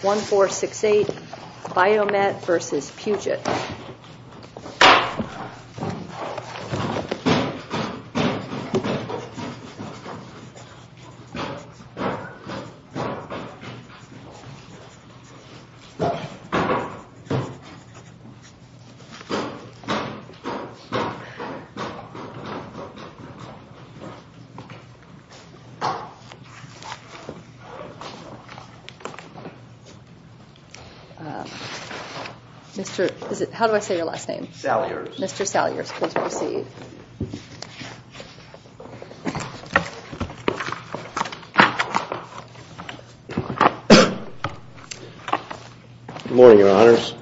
1468 Biomet v. Puget Good morning, Your Honors.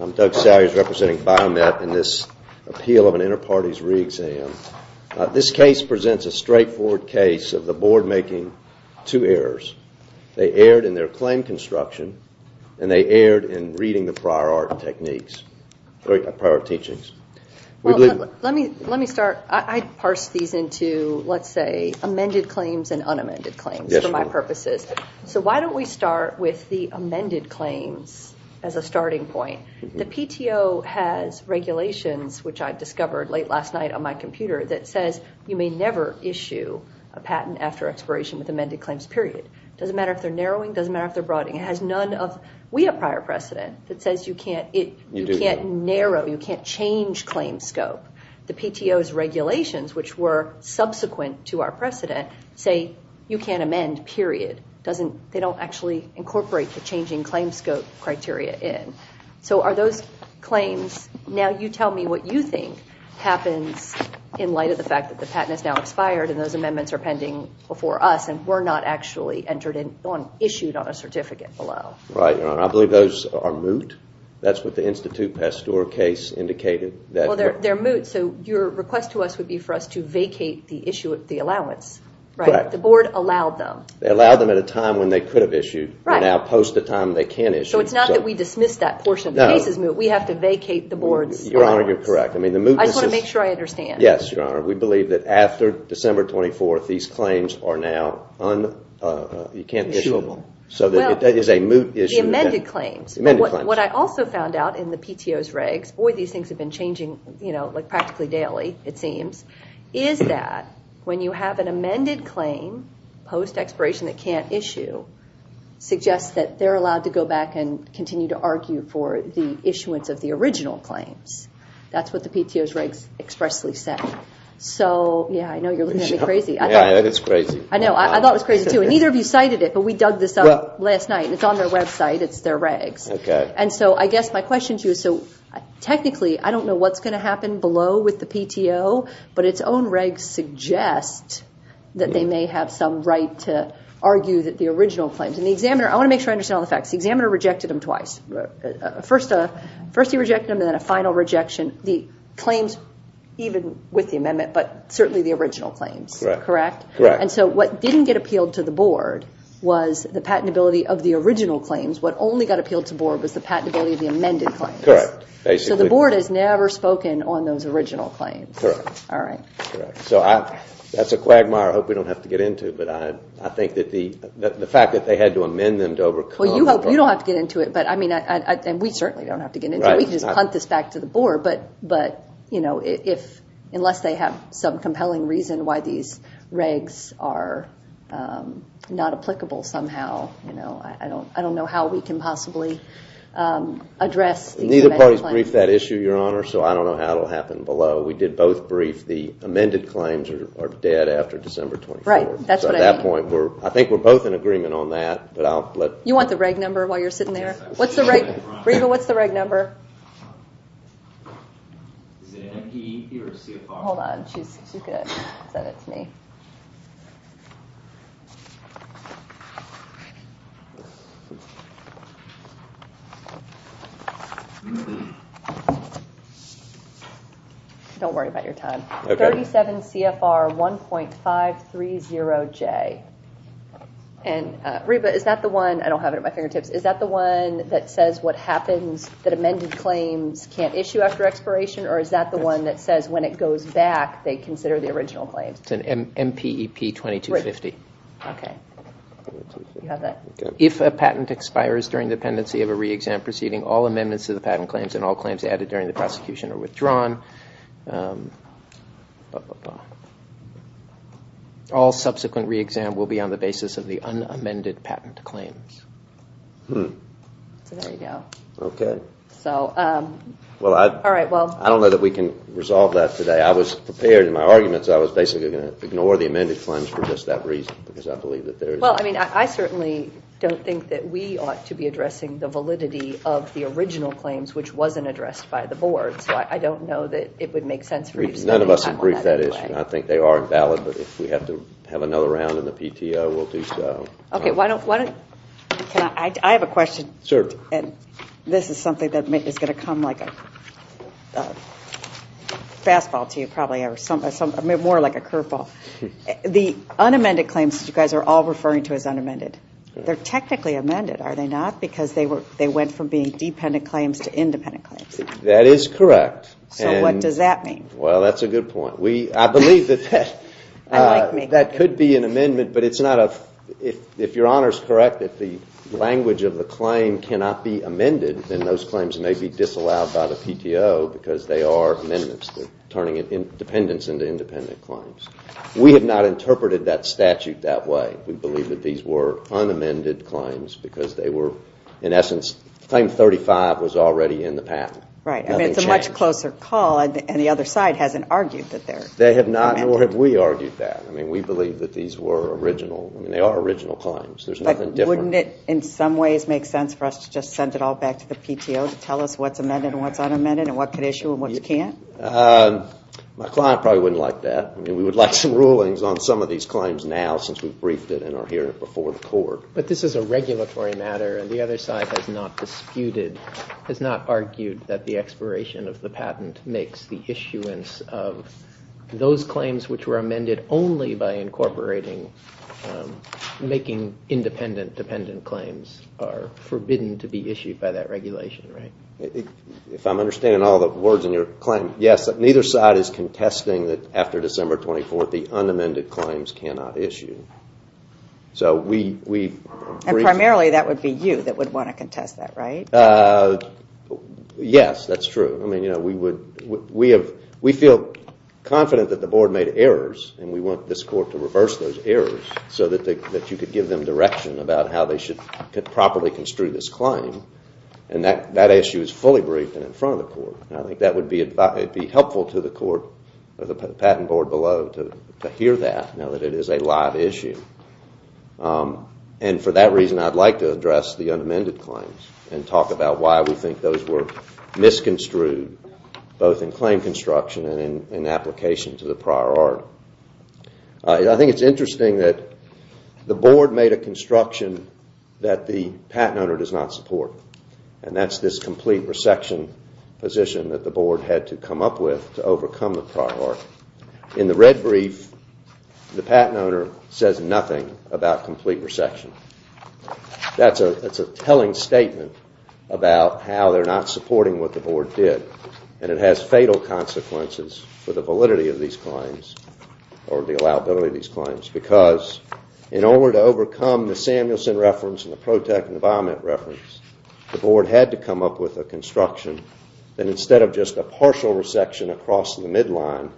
I'm Doug Salyers representing Biomet in this appeal of an interparties re-exam. This case presents a straightforward case of the board making two errors. They erred in reading the prior art techniques, prior teachings. Let me start. I parsed these into, let's say, amended claims and unamended claims for my purposes. So why don't we start with the amended claims as a starting point. The PTO has regulations, which I discovered late last night on my computer, that says you may never issue a patent after expiration with amended claims, period. It doesn't matter if they're narrowing, it doesn't matter. We have prior precedent that says you can't narrow, you can't change claim scope. The PTO's regulations, which were subsequent to our precedent, say you can't amend, period. They don't actually incorporate the changing claim scope criteria in. So are those claims, now you tell me what you think happens in light of the fact that the patent is now expired and those amendments are pending before us and were not actually issued on a certificate below. I believe those are moot. That's what the Institute Pasteur case indicated. They're moot, so your request to us would be for us to vacate the issue of the allowance. Correct. The board allowed them. They allowed them at a time when they could have issued and now post the time they can issue. So it's not that we dismiss that portion of the case as moot, we have to vacate the board's allowance. Your Honor, you're correct. I just want to make sure I understand. Yes, Your Honor. We believe that after December 24th, these claims are now un-issuable. So that is a moot issue. The amended claims. What I also found out in the PTO's regs, boy these things have been changing practically daily, it seems, is that when you have an amended claim post expiration that can't issue, suggests that they're allowed to go back and continue to argue for the issuance of the original claims. That's what the PTO's regs expressly say. So, yeah, I know you're looking at me crazy. Yeah, it's crazy. I know, I thought it was crazy too. And neither of you cited it, but we dug this up last night. It's on their website, it's their regs. Okay. And so I guess my question to you is, so technically, I don't know what's going to happen below with the PTO, but its own regs suggest that they may have some right to argue that the original claims. And the examiner, I want to make sure I understand all the facts, the examiner rejected them twice. First he rejected them and then a final rejection. The claims, even with the amendment, but certainly the original claims. Correct? Correct. And so what didn't get appealed to the board was the patentability of the original claims. What only got appealed to board was the patentability of the amended claims. So the board has never spoken on those original claims. Correct. So that's a quagmire I hope we don't have to get into, but I think that the fact that they had to amend them to overcome... Well, you hope you don't have to get into it, and we certainly don't have to get into it. We can just punt this back to the board, but unless they have some compelling reason why these regs are not applicable somehow, I don't know how we can possibly address these amended claims. Neither party's briefed that issue, Your Honor, so I don't know how it will happen below. We did both brief. The amended claims are dead after December 24th. So at that point, I think we're both in agreement on that, but I'll let... You want the reg number while you're sitting there? What's the reg number? Hold on. She said it to me. Don't worry about your time. 37 CFR 1.530J. And Reba, is that the one... I don't have it at my fingertips. Is that the one that says what happens, that amended claims can't issue after expiration, or is that the one that says when it goes back, they consider the original claims? It's an MPEP 2250. If a patent expires during the pendency of a re-exam proceeding, all amendments to the patent claims and all claims added during the prosecution are withdrawn. All subsequent re-exam will be on the basis of the unamended patent claims. So there you go. I don't know that we can resolve that today. I was prepared in my arguments, I was basically going to ignore the amended claims for just that reason, because I believe that there is... Well, I mean, I certainly don't think that we ought to be addressing the validity of the original claims, which wasn't addressed by the board. So I don't know that it would make sense for you... None of us have briefed that issue, and I think they are valid, but if we have to have another round in the PTO, we'll do so. Okay, why don't... I have a question. This is something that is going to come like a fastball to you, probably, or more like a curveball. The unamended claims that you guys are all referring to as unamended, they're technically amended, are they not? Because they went from being dependent claims to independent claims. That is correct. So what does that mean? Well, that's a good point. I believe that could be an amendment, but if your Honor is correct that the language of the claim cannot be amended, then those claims may be disallowed by the PTO because they are amendments. They're turning dependents into independent claims. We have not interpreted that statute that way. We believe that these were unamended claims because they were, in essence, claim 35 was already in the patent. Right. I mean, it's a much closer call, and the other side hasn't argued that they're amended. They have not, nor have we argued that. I mean, we believe that these were original. I mean, they are original claims. There's nothing different. But wouldn't it, in some ways, make sense for us to just send it all back to the PTO to tell us what's amended and what's unamended and what could issue and what can't? My client probably wouldn't like that. I mean, we would like some rulings on some of these claims now since we've briefed it and are hearing it before the court. But this is a regulatory matter, and the other side has not disputed, has not argued that the expiration of the patent makes the issuance of those claims which were amended only by incorporating, making independent dependent claims are forbidden to be issued by that regulation, right? If I'm understanding all the words in your claim, yes, neither side is contesting that after December 24th, the unamended claims cannot issue. And primarily, that would be you that would want to contest that, right? Yes, that's true. I mean, we feel confident that the board made errors, and we want this court to reverse those errors so that you could give them direction about how they should properly construe this claim. And that issue is fully briefed and in front of the court. And I think that would be helpful to the court or the patent board below to hear that now that it is a live issue. And for that reason, I'd like to address the unamended claims and talk about why we think those were misconstrued both in claim construction and in application to the prior art. I think it's interesting that the board made a construction that the patent owner does not support. And that's this complete resection position that the board had to come up with to overcome the prior art. In the red brief, the patent owner says nothing about complete resection. That's a telling statement about how they're not supporting what the board did. And it has fatal consequences for the validity of these claims or the allowability of these claims. Because in order to overcome the Samuelson reference and the protect and the vomit reference, the board had to come up with a construction that instead of just a partial resection across the midline,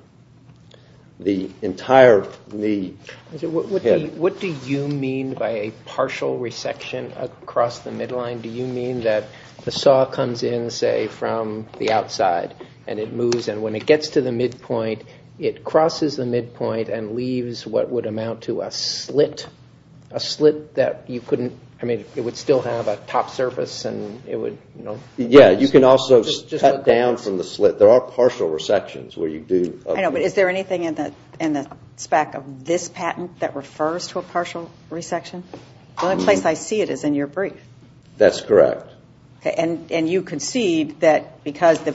the entire need... What do you mean by a partial resection across the midline? Do you mean that the saw comes in, say, from the outside and it moves and when it gets to the midpoint, it crosses the midpoint and leaves what would amount to a slit, a slit that you couldn't... I mean, it would still have a top surface and it would... Yeah, you can also cut down from the slit. There are partial resections where you do... I know, but is there anything in the spec of this patent that refers to a partial resection? The only place I see it is in your brief. That's correct. And you concede that because the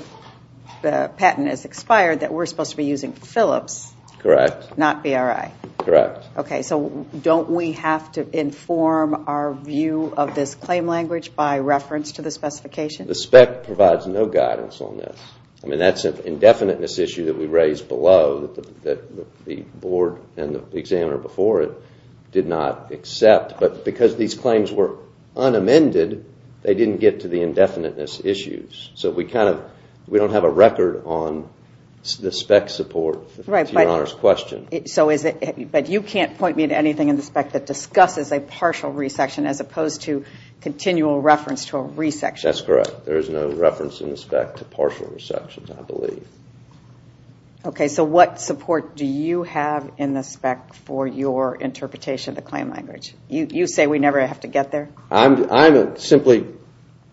patent is expired that we're supposed to be using Phillips... Correct. ...not BRI. Correct. Okay, so don't we have to inform our view of this claim language by reference to the specification? The spec provides no guidance on this. I mean, that's an indefiniteness issue that we raised below that the board and the examiner before it did not accept. But because these claims were unamended, they didn't get to the indefiniteness issues. So we don't have a record on the spec support to Your Honor's question. But you can't point me to anything in the spec that discusses a partial resection as opposed to continual reference to a resection. That's correct. There is no reference in the spec to partial resections, I believe. Okay, so what support do you have in the spec for your interpretation of the claim language? You say we never have to get there? I'm simply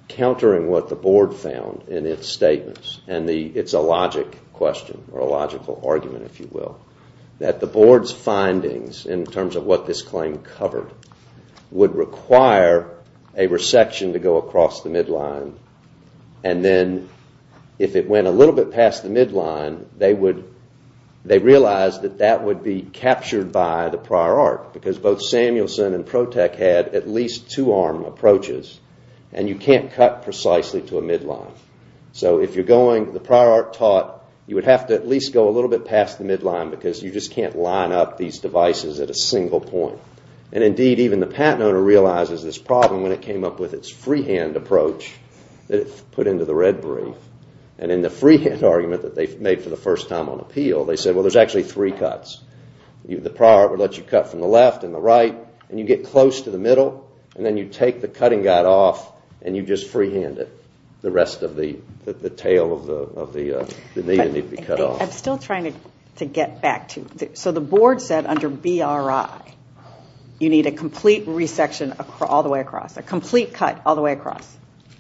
countering what the board found in its statements. And it's a logic question, or a logical argument, if you will, that the board's findings in terms of what this claim covered would require a resection to go across the midline. And then if it went a little bit past the midline, they realized that that would be captured by the prior art. Because both Samuelson and ProTech had at least two-arm approaches, and you can't cut precisely to a midline. So if you're going, the prior art taught, you would have to at least go a little bit past the midline because you just can't line up these devices at a single point. And indeed, even the patent owner realizes this problem when it came up with its freehand approach that it put into the Red Brief. And in the freehand argument that they made for the first time on appeal, they said, well, there's actually three cuts. The prior art would let you cut from the left and the right, and you get close to the middle, and then you take the cutting guide off, and you just freehand it. The rest of the tail of the media need to be cut off. I'm still trying to get back to, so the board said under BRI, you need a complete resection all the way across, a complete cut all the way across.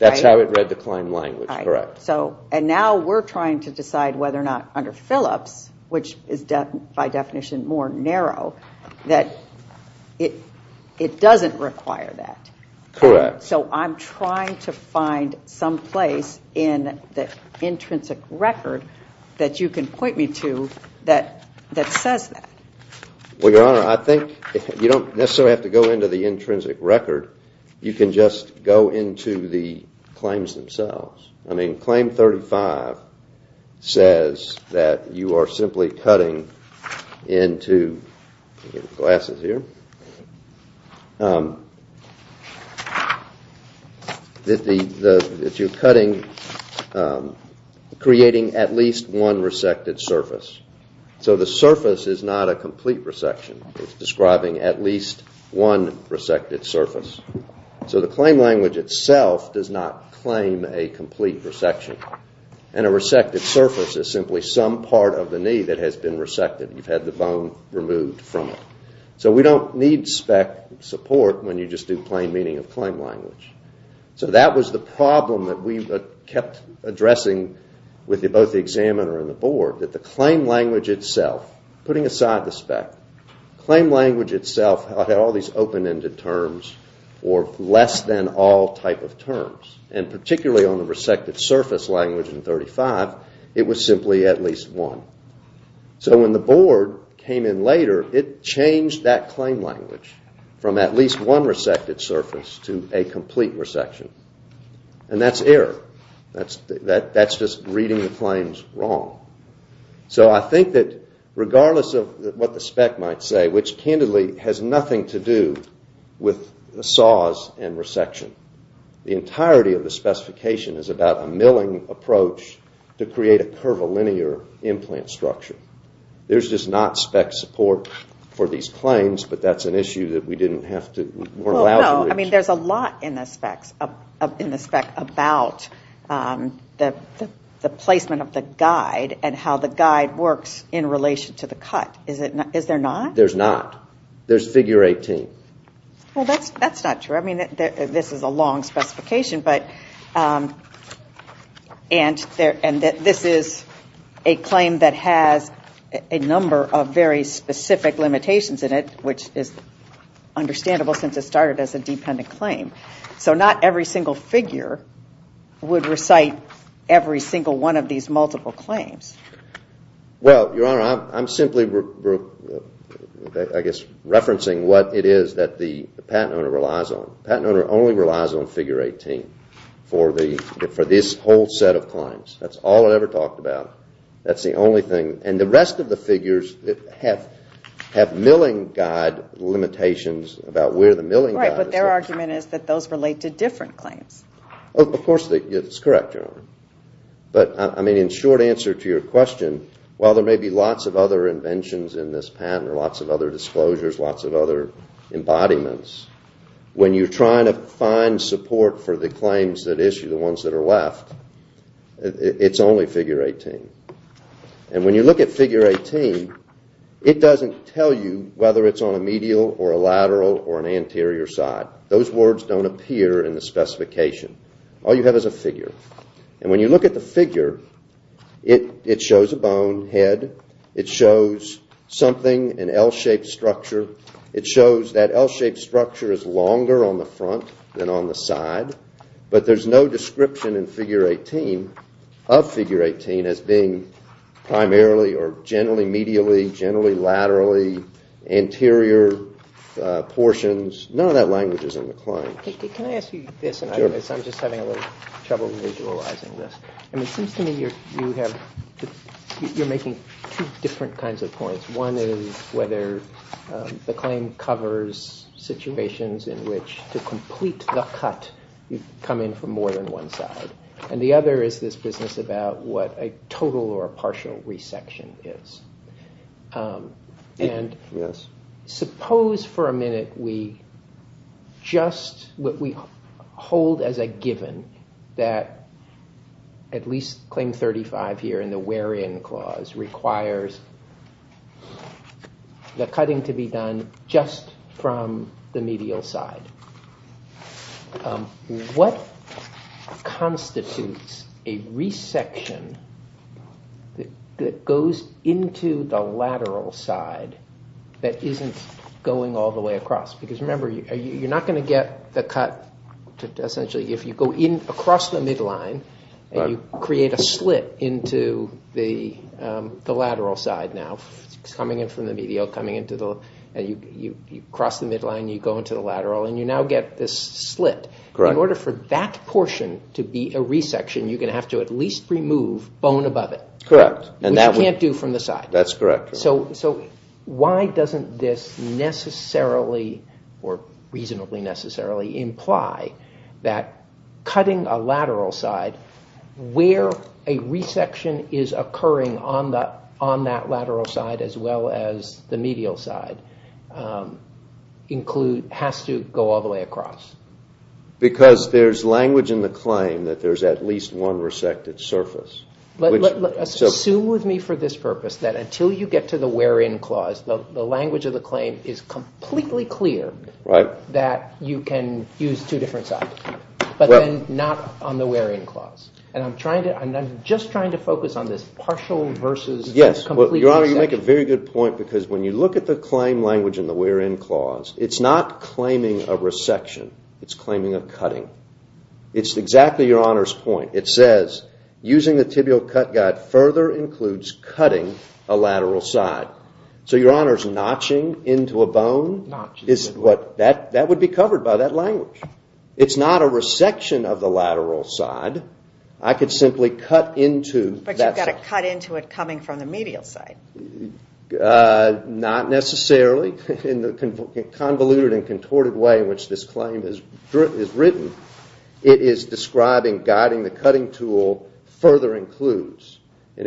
That's how it read the claim language, correct. And now we're trying to decide whether or not under Phillips, which is by definition more narrow, that it doesn't require that. Correct. So I'm trying to find some place in the intrinsic record that you can point me to that says that. Well, Your Honor, I think you don't necessarily have to go into the intrinsic record. You can just go into the claims themselves. I mean, Claim 35 says that you are simply cutting into glasses here, that you're cutting, creating at least one resected surface. So the surface is not a complete resection. It's describing at least one resected surface. So the claim language itself does not claim a complete resection. And a resected surface is simply some part of the knee that has been resected. You've had the bone removed from it. So we don't need spec support when you just do plain meaning of claim language. So that was the problem that we kept addressing with both the examiner and the board, that the claim language itself, putting aside the spec, claim language itself had all these open-ended terms or less-than-all type of terms. And particularly on the resected surface language in 35, it was simply at least one. So when the board came in later, it changed that claim language from at least one resected surface to a complete resection. And that's error. That's just reading the claims wrong. So I think that regardless of what the spec might say, which candidly has nothing to do with the saws and resection, the entirety of the specification is about a milling approach to create a curvilinear implant structure. There's just not spec support for these claims, but that's an issue that we didn't have to... I mean, there's a lot in the spec about the placement of the guide and how the guide works in relation to the cut. Is there not? There's not. There's figure 18. Well, that's not true. I mean, this is a long specification, and this is a claim that has a number of very specific limitations in it, which is understandable since it started as a dependent claim. So not every single figure would recite every single one of these multiple claims. Well, Your Honor, I'm simply, I guess, referencing what it is that the patent owner relies on. The patent owner only relies on figure 18 for this whole set of claims. That's all it ever talked about. That's the only thing. And the rest of the figures have milling guide limitations about where the milling guide is. Right, but their argument is that those relate to different claims. Of course, it's correct, Your Honor. But, I mean, in short answer to your question, while there may be lots of other inventions in this patent or lots of other disclosures, lots of other embodiments, when you're trying to find support for the claims that issue, the ones that are left, it's only figure 18. And when you look at figure 18, it doesn't tell you whether it's on a medial or a lateral or an anterior side. Those words don't appear in the specification. All you have is a figure. And when you look at the figure, it shows a bone head. It shows something, an L-shaped structure. It shows that L-shaped structure is longer on the front than on the side. But there's no description in figure 18 of figure 18 as being primarily or generally medially, generally laterally, anterior portions. None of that language is in the claims. Can I ask you this? I'm just having a little trouble visualizing this. It seems to me you're making two different kinds of points. One is whether the claim covers situations in which to complete the cut, you come in from more than one side. And the other is this business about what a total or a partial resection is. And suppose for a minute we just hold as a given that at least claim 35 here in the wear-in clause requires the cutting to be done just from the medial side. What constitutes a resection that goes into the lateral side that isn't going all the way across? Because remember, you're not going to get the cut essentially if you go in across the midline and you create a slit into the lateral side now, coming in from the medial, and you cross the midline and you go into the lateral and you now get this slit. In order for that portion to be a resection, you're going to have to at least remove bone above it. Correct. Which you can't do from the side. That's correct. So why doesn't this necessarily or reasonably necessarily imply that cutting a lateral side where a resection is occurring on that lateral side as well as the medial side has to go all the way across? Because there's language in the claim that there's at least one resected surface. Assume with me for this purpose that until you get to the wear-in clause, the language of the claim is completely clear that you can use two different sides, but then not on the wear-in clause. And I'm just trying to focus on this partial versus complete resection. Yes, Your Honor, you make a very good point because when you look at the claim language in the wear-in clause, it's not claiming a resection. It's claiming a cutting. It's exactly Your Honor's point. It says, using the tibial cut guide further includes cutting a lateral side. So Your Honor's notching into a bone That would be covered by that language. It's not a resection of the lateral side. I could simply cut into that side. But you've got to cut into it coming from the medial side. Not necessarily. In the convoluted and contorted way in which this claim is written, it is describing guiding the cutting tool further includes. in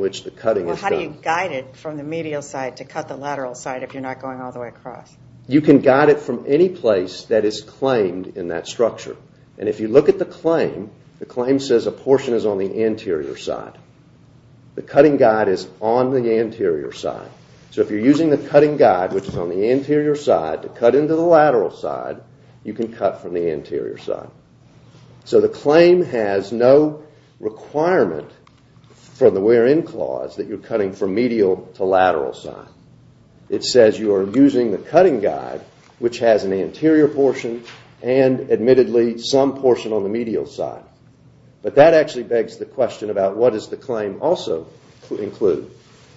which the cutting is done. So how do you guide it from the medial side to cut the lateral side if you're not going all the way across? You can guide it from any place that is claimed in that structure. And if you look at the claim, the claim says a portion is on the anterior side. The cutting guide is on the anterior side. So if you're using the cutting guide, which is on the anterior side, to cut into the lateral side, you can cut from the anterior side. So the claim has no requirement for the where-in clause that you're cutting from medial to lateral side. It says you are using the cutting guide, which has an anterior portion and admittedly some portion on the medial side. But that actually begs the question about what does the claim also include.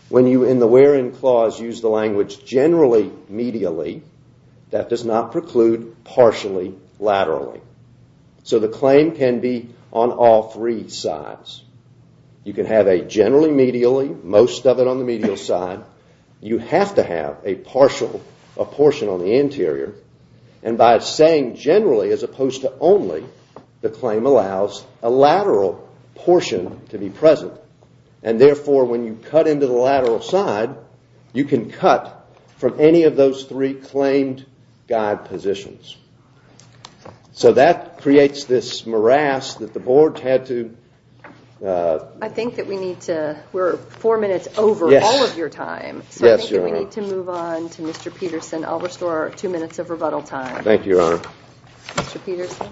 When you in the where-in clause use the language generally medially, that does not preclude partially laterally. So the claim can be on all three sides. You can have a generally medially, most of it on the medial side. You have to have a portion on the anterior. And by saying generally as opposed to only, the claim allows a lateral portion to be present. And therefore when you cut into the lateral side, you can cut from any of those three claimed guide positions. So that creates this morass that the board had to I think that we need to, we're four minutes over all of your time. So I think that we need to move on to Mr. Peterson. I'll restore two minutes of rebuttal time. Thank you, Your Honor. Mr. Peterson.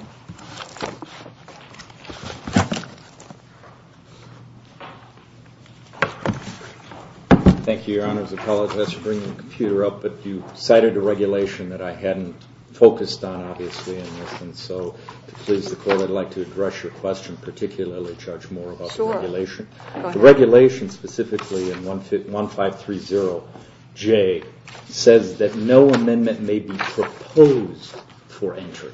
Thank you, Your Honor. I apologize for bringing the computer up, but you cited a regulation that I hadn't focused on obviously in this. And so to please the court, I'd like to address your question, and particularly charge more about the regulation. The regulation specifically in 1530J says that no amendment may be proposed for entry.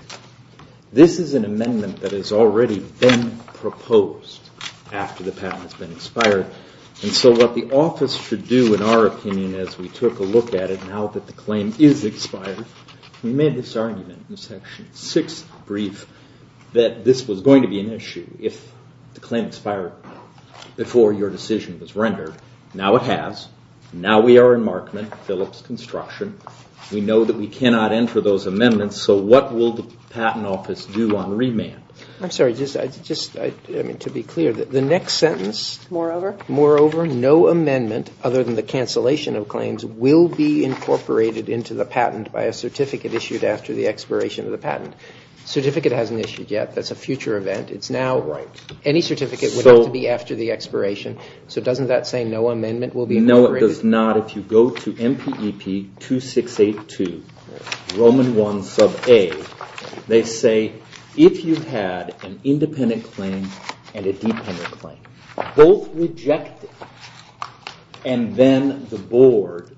This is an amendment that has already been proposed after the patent has been expired. And so what the office should do, in our opinion, as we took a look at it now that the claim is expired, we made this argument in Section 6 brief that this was going to be an issue. If the claim expired before your decision was rendered, now it has. Now we are in Markman-Phillips construction. We know that we cannot enter those amendments, so what will the Patent Office do on remand? I'm sorry, just to be clear, the next sentence, moreover, no amendment other than the cancellation of claims will be incorporated into the patent by a certificate issued after the expiration of the patent. Certificate hasn't issued yet. That's a future event. It's now any certificate would have to be after the expiration. So doesn't that say no amendment will be incorporated? No, it does not. If you go to MPEP 2682, Roman I, Sub A, they say if you had an independent claim and a dependent claim, both rejected, and then the board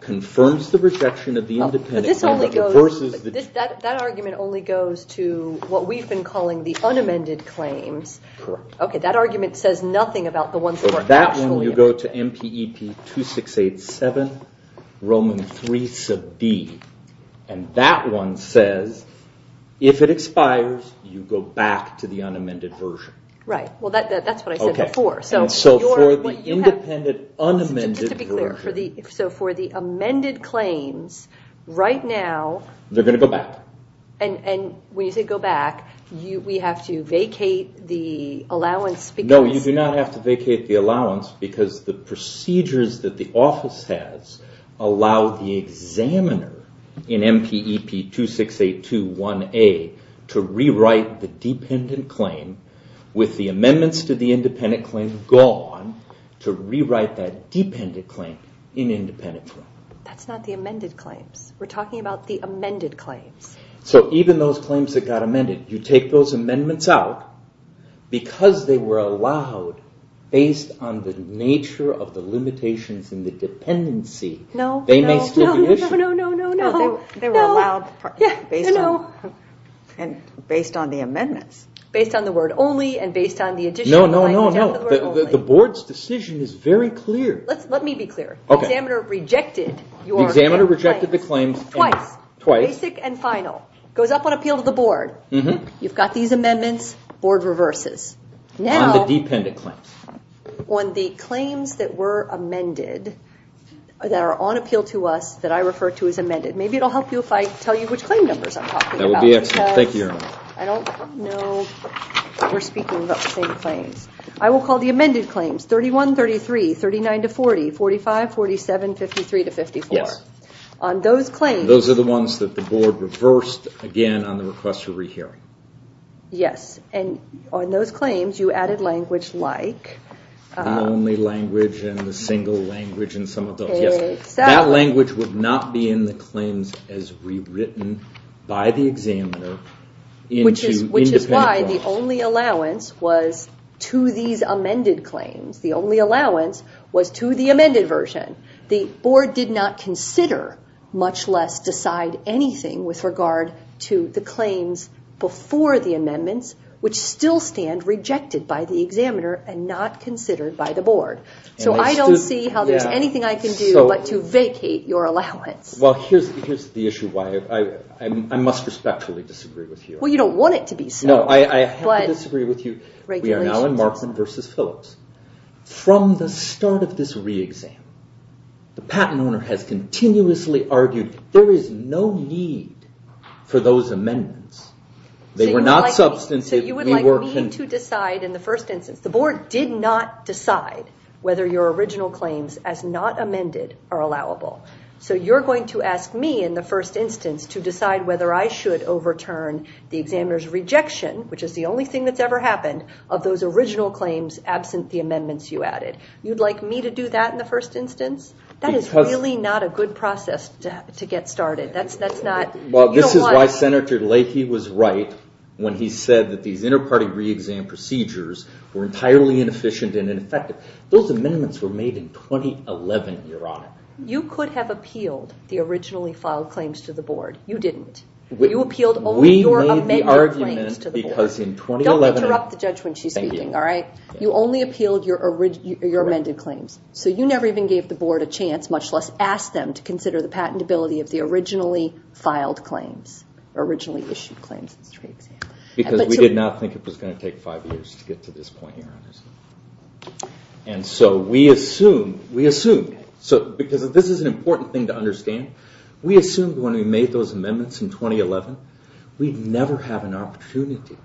confirms the rejection of the independent claim. That argument only goes to what we've been calling the unamended claims. Correct. Okay, that argument says nothing about the ones we're actually on. That one you go to MPEP 2687, Roman III, Sub D, and that one says if it expires, you go back to the unamended version. Right. Well, that's what I said before. So for the independent unamended version. So for the amended claims, right now- They're going to go back. And when you say go back, we have to vacate the allowance because- No, you do not have to vacate the allowance because the procedures that the office has allow the examiner in MPEP 2682, 1A, to rewrite the dependent claim with the amendments to the independent claim gone to rewrite that dependent claim in independent form. That's not the amended claims. We're talking about the amended claims. So even those claims that got amended, you take those amendments out, because they were allowed based on the nature of the limitations and the dependency, they may still be issued. No, no, no, no, no, no. They were allowed based on the amendments. Based on the word only and based on the addition of the word only. The board's decision is very clear. Let me be clear. Okay. The examiner rejected your- The examiner rejected the claims- Twice. Twice. Basic and final. Goes up on appeal to the board. You've got these amendments. Board reverses. Now- On the dependent claims. On the claims that were amended, that are on appeal to us, that I refer to as amended. Maybe it will help you if I tell you which claim numbers I'm talking about. That would be excellent. Thank you, Your Honor. I don't know if we're speaking about the same claims. I will call the amended claims 31, 33, 39 to 40, 45, 47, 53 to 54. Yes. On those claims- Those are the ones that the board reversed, again, on the request for rehearing. Yes. On those claims, you added language like- The only language and the single language and some of those. Yes. Exactly. That language would not be in the claims as rewritten by the examiner into- Which is why the only allowance was to these amended claims. The only allowance was to the amended version. The board did not consider, much less decide anything with regard to the claims before the amendments, which still stand rejected by the examiner and not considered by the board. I don't see how there's anything I can do but to vacate your allowance. Here's the issue. I must respectfully disagree with you. Well, you don't want it to be so. No, I have to disagree with you. We are now in Markman versus Phillips. From the start of this re-exam, the patent owner has continuously argued there is no need for those amendments. They were not substantive. You would like me to decide in the first instance. The board did not decide whether your original claims as not amended are allowable. You're going to ask me in the first instance to decide whether I should overturn the examiner's rejection, which is the only thing that's ever happened, of those original claims absent the amendments you added. You'd like me to do that in the first instance? That is really not a good process to get started. This is why Senator Leahy was right when he said that these inter-party re-exam procedures were entirely inefficient and ineffective. Those amendments were made in 2011, Your Honor. You could have appealed the originally filed claims to the board. You didn't. You appealed only your amended claims to the board. We made the argument because in 2011... Don't interrupt the judge when she's speaking, all right? You only appealed your amended claims. So you never even gave the board a chance, much less asked them to consider the patentability of the originally filed claims, originally issued claims in this re-exam. Because we did not think it was going to take five years to get to this point, Your Honor. And so we assumed, because this is an important thing to understand, we assumed when we made those amendments in 2011, we'd never have an opportunity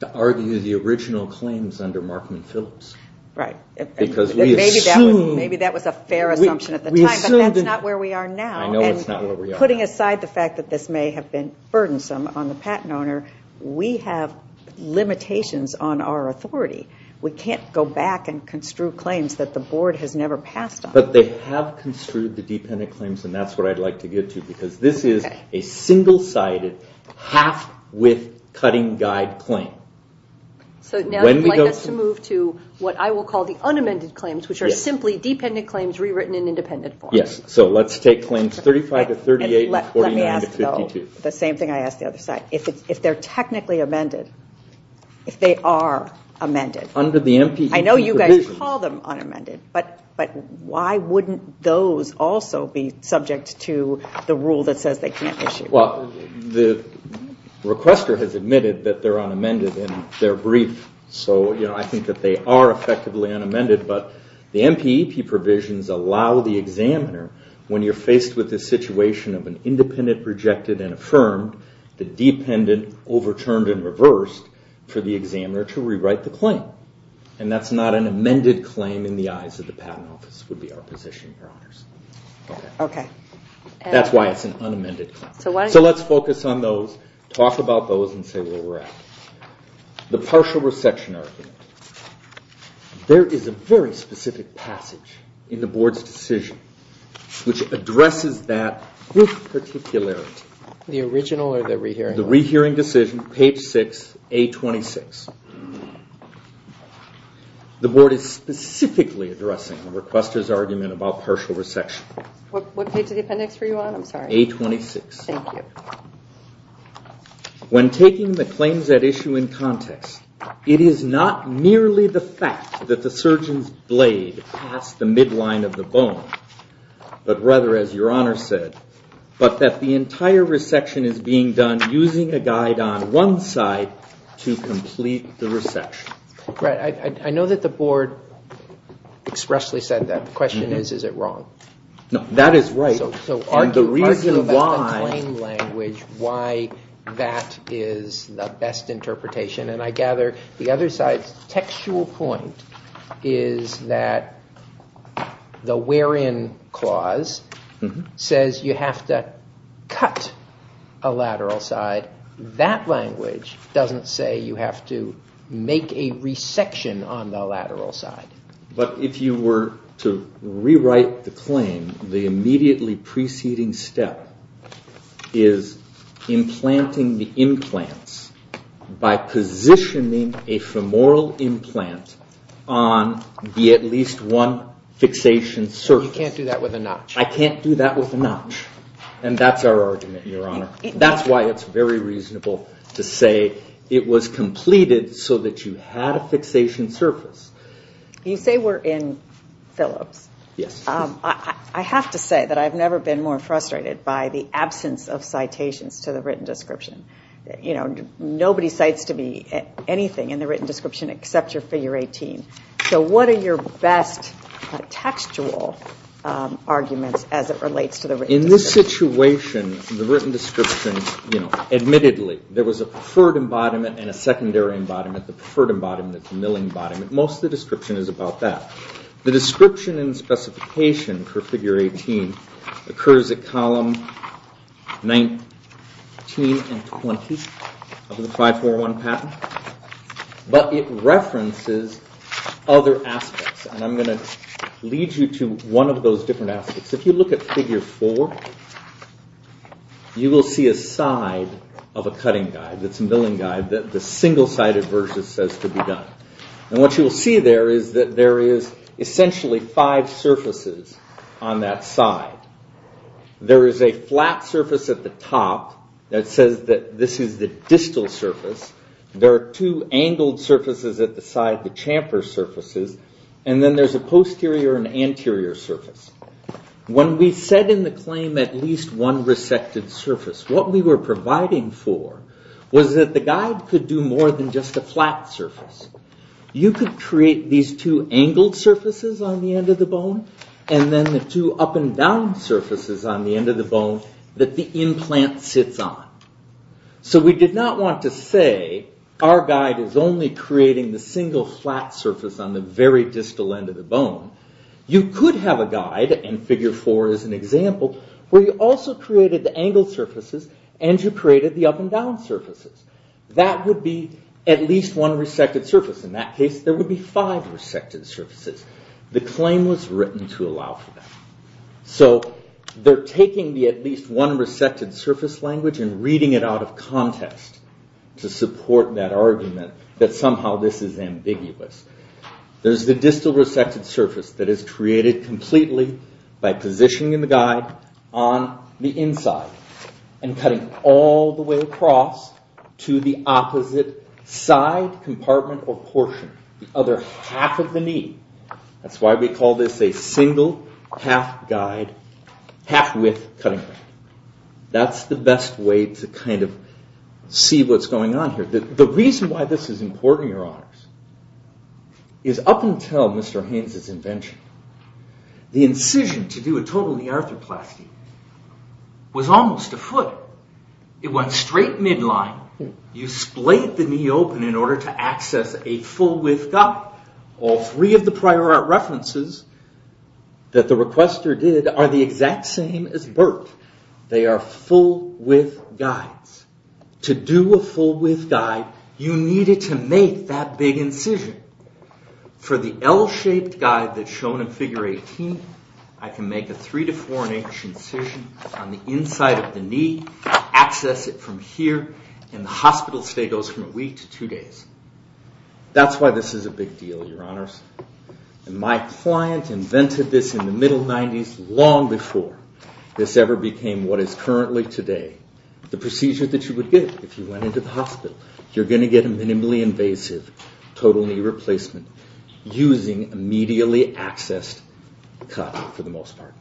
to argue the original claims under Markman-Phillips. Right. Because we assumed... Maybe that was a fair assumption at the time, but that's not where we are now. I know it's not where we are now. Putting aside the fact that this may have been burdensome on the patent owner, we have limitations on our authority. We can't go back and construe claims that the board has never passed on. But they have construed the dependent claims, and that's what I'd like to get to, because this is a single-sided, half-width cutting guide claim. So now you'd like us to move to what I will call the unamended claims, which are simply dependent claims rewritten in independent form. Yes, so let's take claims 35 to 38 and 49 to 52. Let me ask, though, the same thing I asked the other side. If they're technically amended, if they are amended, I know you guys call them unamended, but why wouldn't those also be subject to the rule that says they can't issue? Well, the requester has admitted that they're unamended in their brief, so I think that they are effectively unamended. But the MPEP provisions allow the examiner, when you're faced with the situation of an independent, rejected, and affirmed, the dependent overturned and reversed for the examiner to rewrite the claim. And that's not an amended claim in the eyes of the Patent Office, would be our position, Your Honors. Okay. That's why it's an unamended claim. So let's focus on those, talk about those, and say where we're at. The partial resection argument. There is a very specific passage in the board's decision which addresses that particularity. The original or the rehearing one? The rehearing decision, page 6, A26. The board is specifically addressing the requester's argument about partial resection. What page of the appendix were you on? I'm sorry. A26. Thank you. When taking the claims at issue in context, it is not merely the fact that the surgeon's blade passed the midline of the bone, but rather, as Your Honor said, but that the entire resection is being done using a guide on one side to complete the resection. Right. I know that the board expressly said that. The question is, is it wrong? No, that is right. So argue about the claim language, why that is the best interpretation. And I gather the other side's textual point is that the wherein clause says you have to cut a lateral side. That language doesn't say you have to make a resection on the lateral side. But if you were to rewrite the claim, the immediately preceding step is implanting the implants by positioning a femoral implant on the at least one fixation surface. You can't do that with a notch. I can't do that with a notch. And that's our argument, Your Honor. That's why it's very reasonable to say it was completed so that you had a fixation surface. You say we're in Phillips. Yes. I have to say that I've never been more frustrated by the absence of citations to the written description. Nobody cites to me anything in the written description except your figure 18. So what are your best textual arguments as it relates to the written description? In this situation, the written description, admittedly, there was a preferred embodiment and a secondary embodiment. The preferred embodiment, the milling embodiment. Most of the description is about that. The description and specification for figure 18 occurs at column 19 and 20 of the 541 patent. But it references other aspects. And I'm going to lead you to one of those different aspects. If you look at figure 4, you will see a side of a cutting guide that's a milling guide that the single-sided version says to be done. And what you will see there is that there is essentially five surfaces on that side. There is a flat surface at the top that says that this is the distal surface. There are two angled surfaces at the side, the chamfer surfaces. And then there's a posterior and anterior surface. When we set in the claim at least one resected surface, what we were providing for was that the guide could do more than just a flat surface. You could create these two angled surfaces on the end of the bone, and then the two up and down surfaces on the end of the bone that the implant sits on. So we did not want to say our guide is only creating the single flat surface on the very distal end of the bone. You could have a guide, and figure 4 is an example, where you also created the angled surfaces and you created the up and down surfaces. That would be at least one resected surface. In that case, there would be five resected surfaces. The claim was written to allow for that. So they're taking the at least one resected surface language and reading it out of context to support that argument that somehow this is ambiguous. There's the distal resected surface that is created completely by positioning the guide on the inside and cutting all the way across to the opposite side, compartment, or portion. The other half of the knee. That's why we call this a single half-guide, half-width cutting. That's the best way to kind of see what's going on here. The reason why this is important, Your Honors, is up until Mr. Haynes' invention, the incision to do a total knee arthroplasty was almost a foot. It went straight midline. You splayed the knee open in order to access a full-width guide. All three of the prior art references that the requester did are the exact same as Burt. They are full-width guides. To do a full-width guide, you needed to make that big incision. For the L-shaped guide that's shown in Figure 18, I can make a three to four-inch incision on the inside of the knee, access it from here, and the hospital stay goes from a week to two days. That's why this is a big deal, Your Honors. My client invented this in the middle 90s long before this ever became what is currently today. The procedure that you would get if you went into the hospital, you're going to get a minimally invasive total knee replacement using a medially accessed cut for the most part,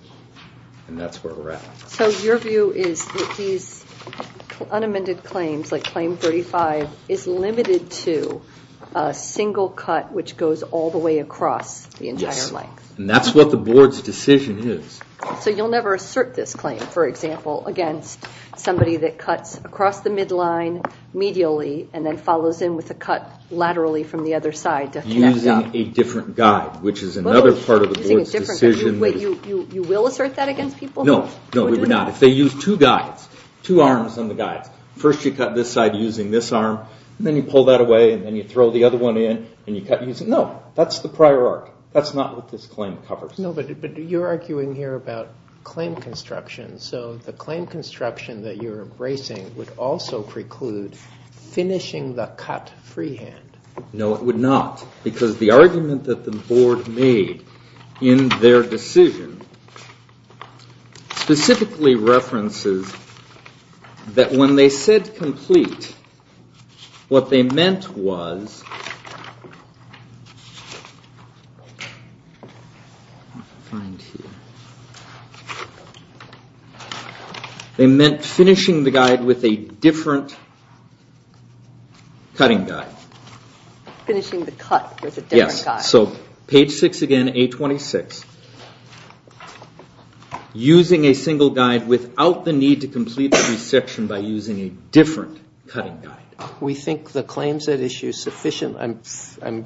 and that's where we're at. So your view is that these unamended claims, like Claim 35, is limited to a single cut which goes all the way across the entire length? Yes, and that's what the Board's decision is. So you'll never assert this claim, for example, against somebody that cuts across the midline medially and then follows in with a cut laterally from the other side to connect up? Using a different guide, which is another part of the Board's decision. Wait, you will assert that against people? No, no, we would not. If they use two guides, two arms on the guides, first you cut this side using this arm, and then you pull that away, and then you throw the other one in, and you cut using that. No, that's the prior arc. That's not what this claim covers. No, but you're arguing here about claim construction, so the claim construction that you're embracing would also preclude finishing the cut freehand. No, it would not, because the argument that the Board made in their decision specifically references that when they said complete, what they meant was finishing the guide with a different cutting guide. Finishing the cut with a different guide. Yes, so page 6 again, A26. Using a single guide without the need to complete the section by using a different cutting guide. We think the claims that issue sufficient, I'm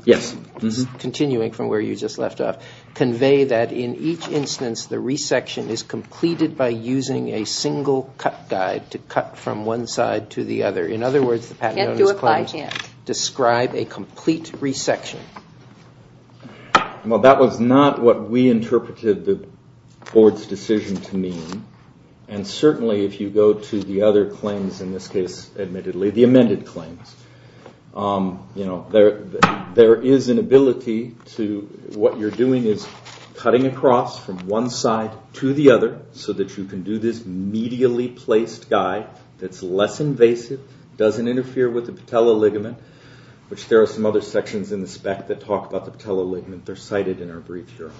continuing from where you just left off, convey that in each instance the resection is completed by using a single cut guide to cut from one side to the other. In other words, the Patagonia claims describe a complete resection. Well, that was not what we interpreted the Board's decision to mean, and certainly if you go to the other claims in this case admittedly, the amended claims, there is an ability to, what you're doing is cutting across from one side to the other so that you can do this medially placed guide that's less invasive, doesn't interfere with the patella ligament, which there are some other sections in the spec that talk about the patella ligament. They're cited in our brief here.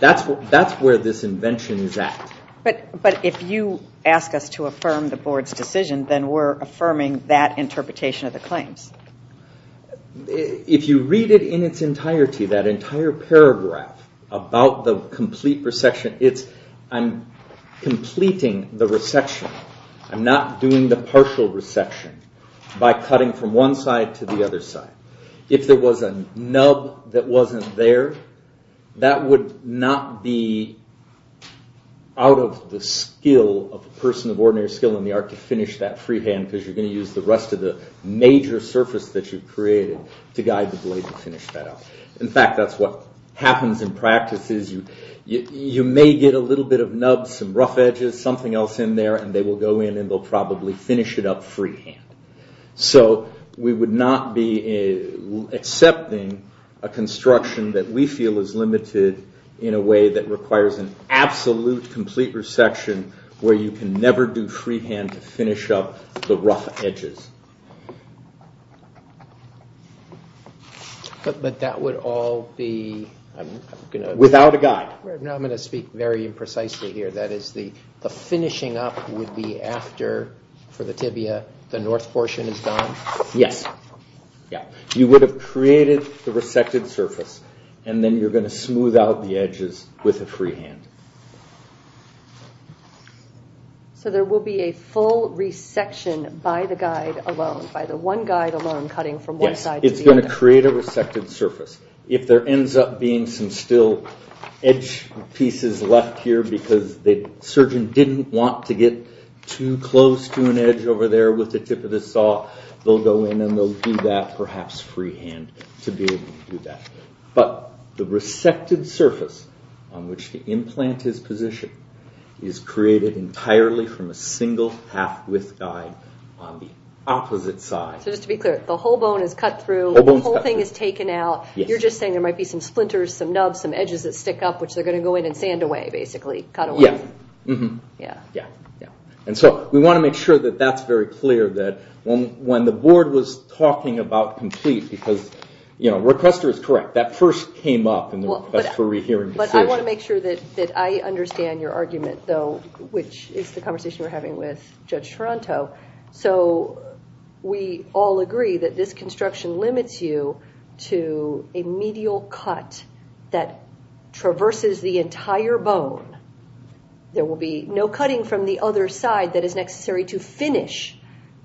That's where this invention is at. But if you ask us to affirm the Board's decision, then we're affirming that interpretation of the claims. If you read it in its entirety, that entire paragraph about the complete resection, I'm completing the resection. I'm not doing the partial resection by cutting from one side to the other side. If there was a nub that wasn't there, that would not be out of the skill of a person of ordinary skill in the art to finish that freehand because you're going to use the rest of the major surface that you've created to guide the blade to finish that up. In fact, that's what happens in practice is you may get a little bit of nub, some rough edges, something else in there, and they will go in and they'll probably finish it up freehand. We would not be accepting a construction that we feel is limited in a way that requires an absolute complete resection where you can never do freehand to finish up the rough edges. But that would all be... Without a guide. I'm going to speak very imprecisely here. That is, the finishing up would be after, for the tibia, the north portion is gone? Yes. You would have created the resected surface, and then you're going to smooth out the edges with a freehand. So there will be a full resection by the guide alone, by the one guide alone cutting from one side to the other. Yes, it's going to create a resected surface. If there ends up being some still edge pieces left here because the surgeon didn't want to get too close to an edge over there with the tip of the saw, they'll go in and they'll do that perhaps freehand to be able to do that. But the resected surface on which to implant his position is created entirely from a single half-width guide on the opposite side. So just to be clear, the whole bone is cut through, the whole thing is taken out. You're just saying there might be some splinters, some nubs, some edges that stick up, which they're going to go in and sand away, basically. Cut away. Yes. And so we want to make sure that that's very clear, that when the board was talking about complete, because requester is correct. That first came up in the request for rehearing decision. But I want to make sure that I understand your argument, though, which is the conversation we're having with Judge Toronto. So we all agree that this construction limits you to a medial cut that traverses the entire bone. There will be no cutting from the other side that is necessary to finish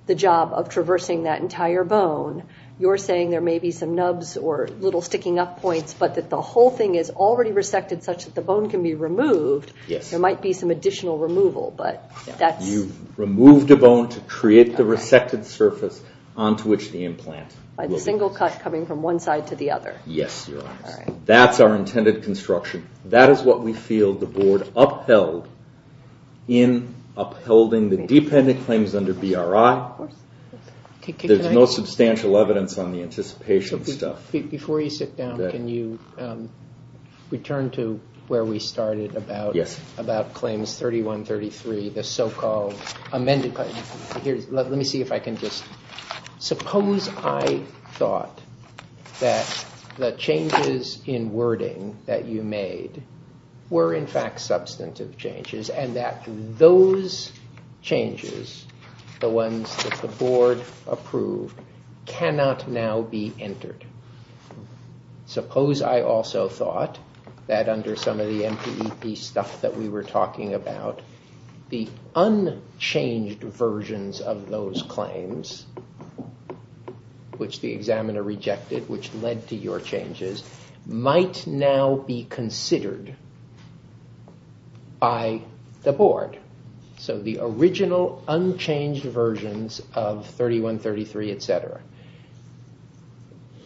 the job of traversing that entire bone. You're saying there may be some nubs or little sticking-up points, but that the whole thing is already resected such that the bone can be removed. Yes. There might be some additional removal, but that's... You've removed a bone to create the resected surface onto which the implant will be placed. By the single cut coming from one side to the other. Yes. That's our intended construction. That is what we feel the board upheld in upholding the dependent claims under BRI. Of course. There's no substantial evidence on the anticipation stuff. Before you sit down, can you return to where we started about claims 3133, the so-called amended... Let me see if I can just... I thought that the changes in wording that you made were in fact substantive changes, and that those changes, the ones that the board approved, cannot now be entered. Suppose I also thought that under some of the MPEP stuff that we were talking about, the unchanged versions of those claims, which the examiner rejected, which led to your changes, might now be considered by the board. So the original unchanged versions of 3133, etc.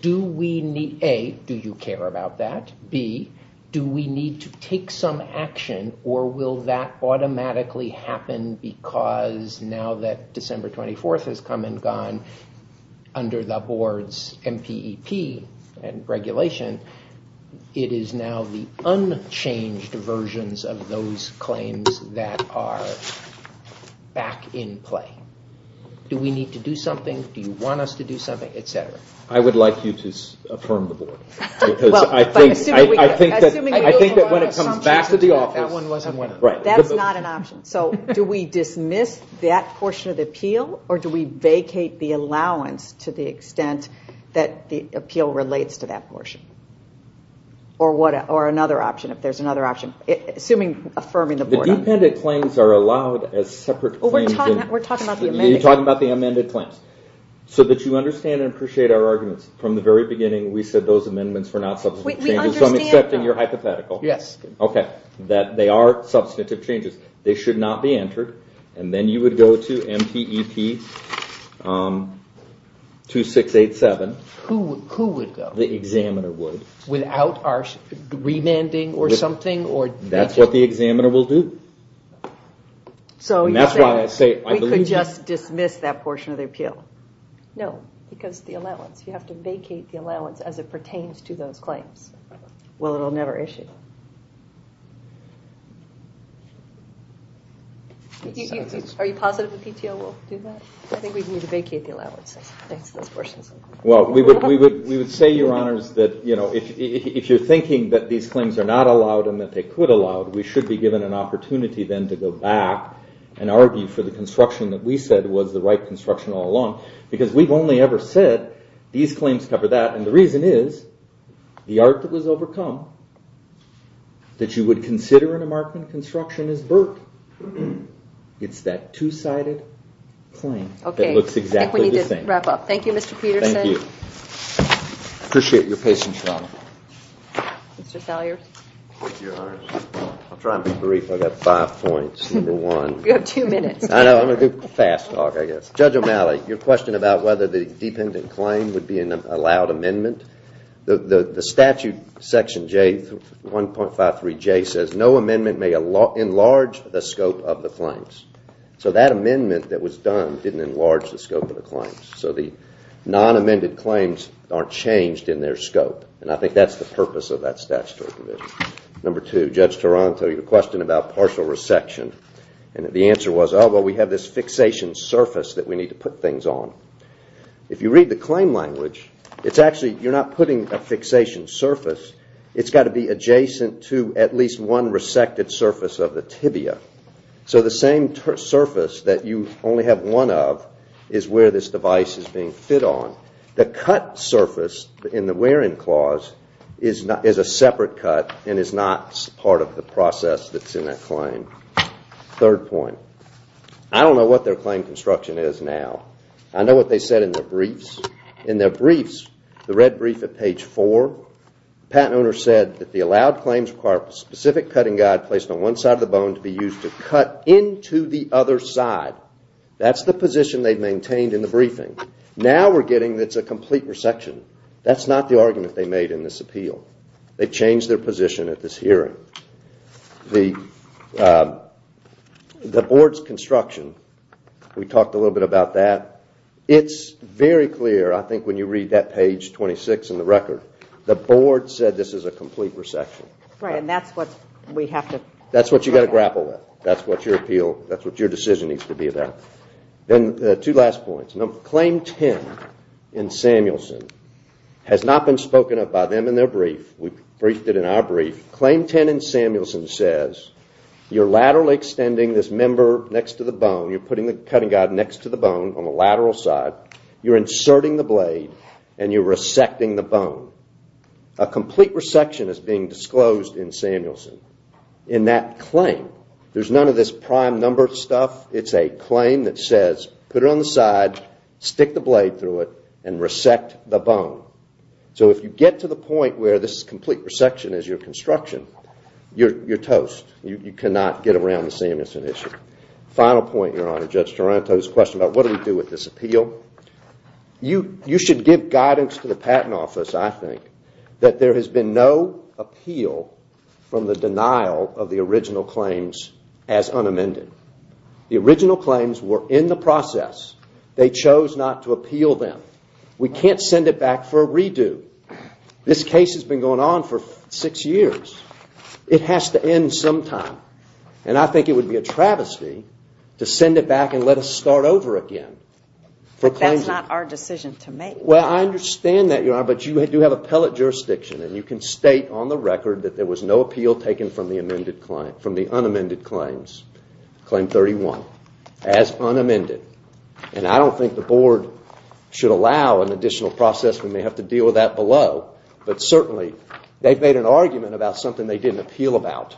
Do we need... A, do you care about that? B, do we need to take some action or will that automatically happen because now that December 24th has come and gone under the board's MPEP regulation, it is now the unchanged versions of those claims that are back in play. Do we need to do something? Do you want us to do something? I would like you to affirm the board. I think that when it comes back to the office... That's not an option. So do we dismiss that portion of the appeal or do we vacate the allowance to the extent that the appeal relates to that portion? Or another option, if there's another option? Assuming affirming the board... The dependent claims are allowed as separate claims. We're talking about the amended claims. You're talking about the amended claims. So that you understand and appreciate our arguments, from the very beginning, we said those amendments were not substantive changes. So I'm accepting your hypothetical. That they are substantive changes. They should not be entered. And then you would go to MPEP 2687. Who would go? The examiner would. Without our remanding or something? That's what the examiner will do. And that's why I say... We could just dismiss that portion of the appeal. No. Because of the allowance. You have to vacate the allowance as it pertains to those claims. Well, it'll never issue. Are you positive the PTO will do that? I think we need to vacate the allowance. Thanks for those questions. Well, we would say, Your Honors, that if you're thinking that these claims are not allowed and that they could allow it, we should be given an opportunity then to go back and argue for the construction that we said was the right construction all along. Because we've only ever said, these claims cover that. And the reason is, the art that was overcome, that you would consider in a Markman construction, is Burke. It's that two-sided claim. Okay. That looks exactly the same. I think we need to wrap up. Thank you, Mr. Peterson. Thank you. I appreciate your patience, Your Honor. Mr. Salyers? Thank you, Your Honors. I'll try and be brief. I've got five points. Number one... You have two minutes. I know. I'm going to do a fast talk, I guess. Judge O'Malley, your question about whether the dependent claim would be an allowed amendment, the statute section 1.53J says, no amendment may enlarge the scope of the claims. So that amendment that was done didn't enlarge the scope of the claims. So the non-amended claims aren't changed in their scope. And I think that's the purpose of that statutory provision. Number two, Judge Taranto, your question about partial resection. And the answer was, oh, well, we have this fixation surface that we need to put things on. If you read the claim language, it's actually, you're not putting a fixation surface, it's got to be adjacent to at least one resected surface of the tibia. So the same surface that you only have one of is where this device is being fit on. The cut surface in the wear-in clause is a separate cut and is not part of the process that's in that claim. Third point, I don't know what their claim construction is now. I know what they said in their briefs. In their briefs, the red brief at page four, the patent owner said that the allowed claims require a specific cutting guide placed on one side of the bone to be used to cut into the other side. That's the position they've maintained in the briefing. Now we're getting that it's a complete resection. That's not the argument they made in this appeal. They've changed their position at this hearing. The board's construction, we talked a little bit about that. It's very clear, I think, when you read that page 26 in the record, the board said this is a complete resection. Right, and that's what we have to grapple with. That's what you've got to grapple with. That's what your decision needs to be there. Two last points. Claim 10 in Samuelson has not been spoken of by them in their brief. We briefed it in our brief. Claim 10 in Samuelson says you're laterally extending this member next to the bone. You're putting the cutting guide next to the bone on the lateral side. You're inserting the blade and you're resecting the bone. A complete resection is being disclosed in Samuelson. In that claim, there's none of this prime number stuff. It's a claim that says put it on the side, stick the blade through it and resect the bone. So if you get to the point where this complete resection is your construction, you're toast. You cannot get around the Samuelson issue. Final point, Your Honor, Judge Taranto's question about what do we do with this appeal. You should give guidance to the Patent Office, I think, that there has been no appeal from the denial of the original claims as unamended. The original claims were in the process. They chose not to appeal them. We can't send it back for a redo. This case has been going on for six years. It has to end sometime. And I think it would be a travesty to send it back and let us start over again. That's not our decision to make. Well, I understand that, Your Honor, but you do have appellate jurisdiction and you can state on the record that there was no appeal taken from the unamended claims, Claim 31, as unamended. And I don't think the Board should allow an additional process. We may have to deal with that below. But certainly, they've made an argument about something they didn't appeal about.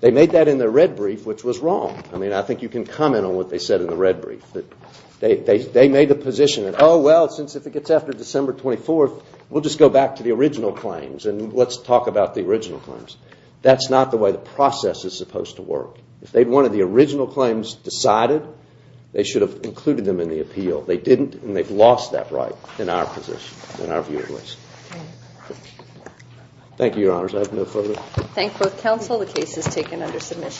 They made that in their red brief, which was wrong. I mean, I think you can comment on what they said in the red brief. They made the position that, oh, well, since it gets after December 24th, we'll just go back to the original claims and let's talk about the original claims. That's not the way the process is supposed to work. If they wanted the original claims decided, they should have included them in the appeal. They didn't, and they've lost that right in our position, in our view at least. Thank you, Your Honors. I have no further... Thank both counsel. The case is taken under submission.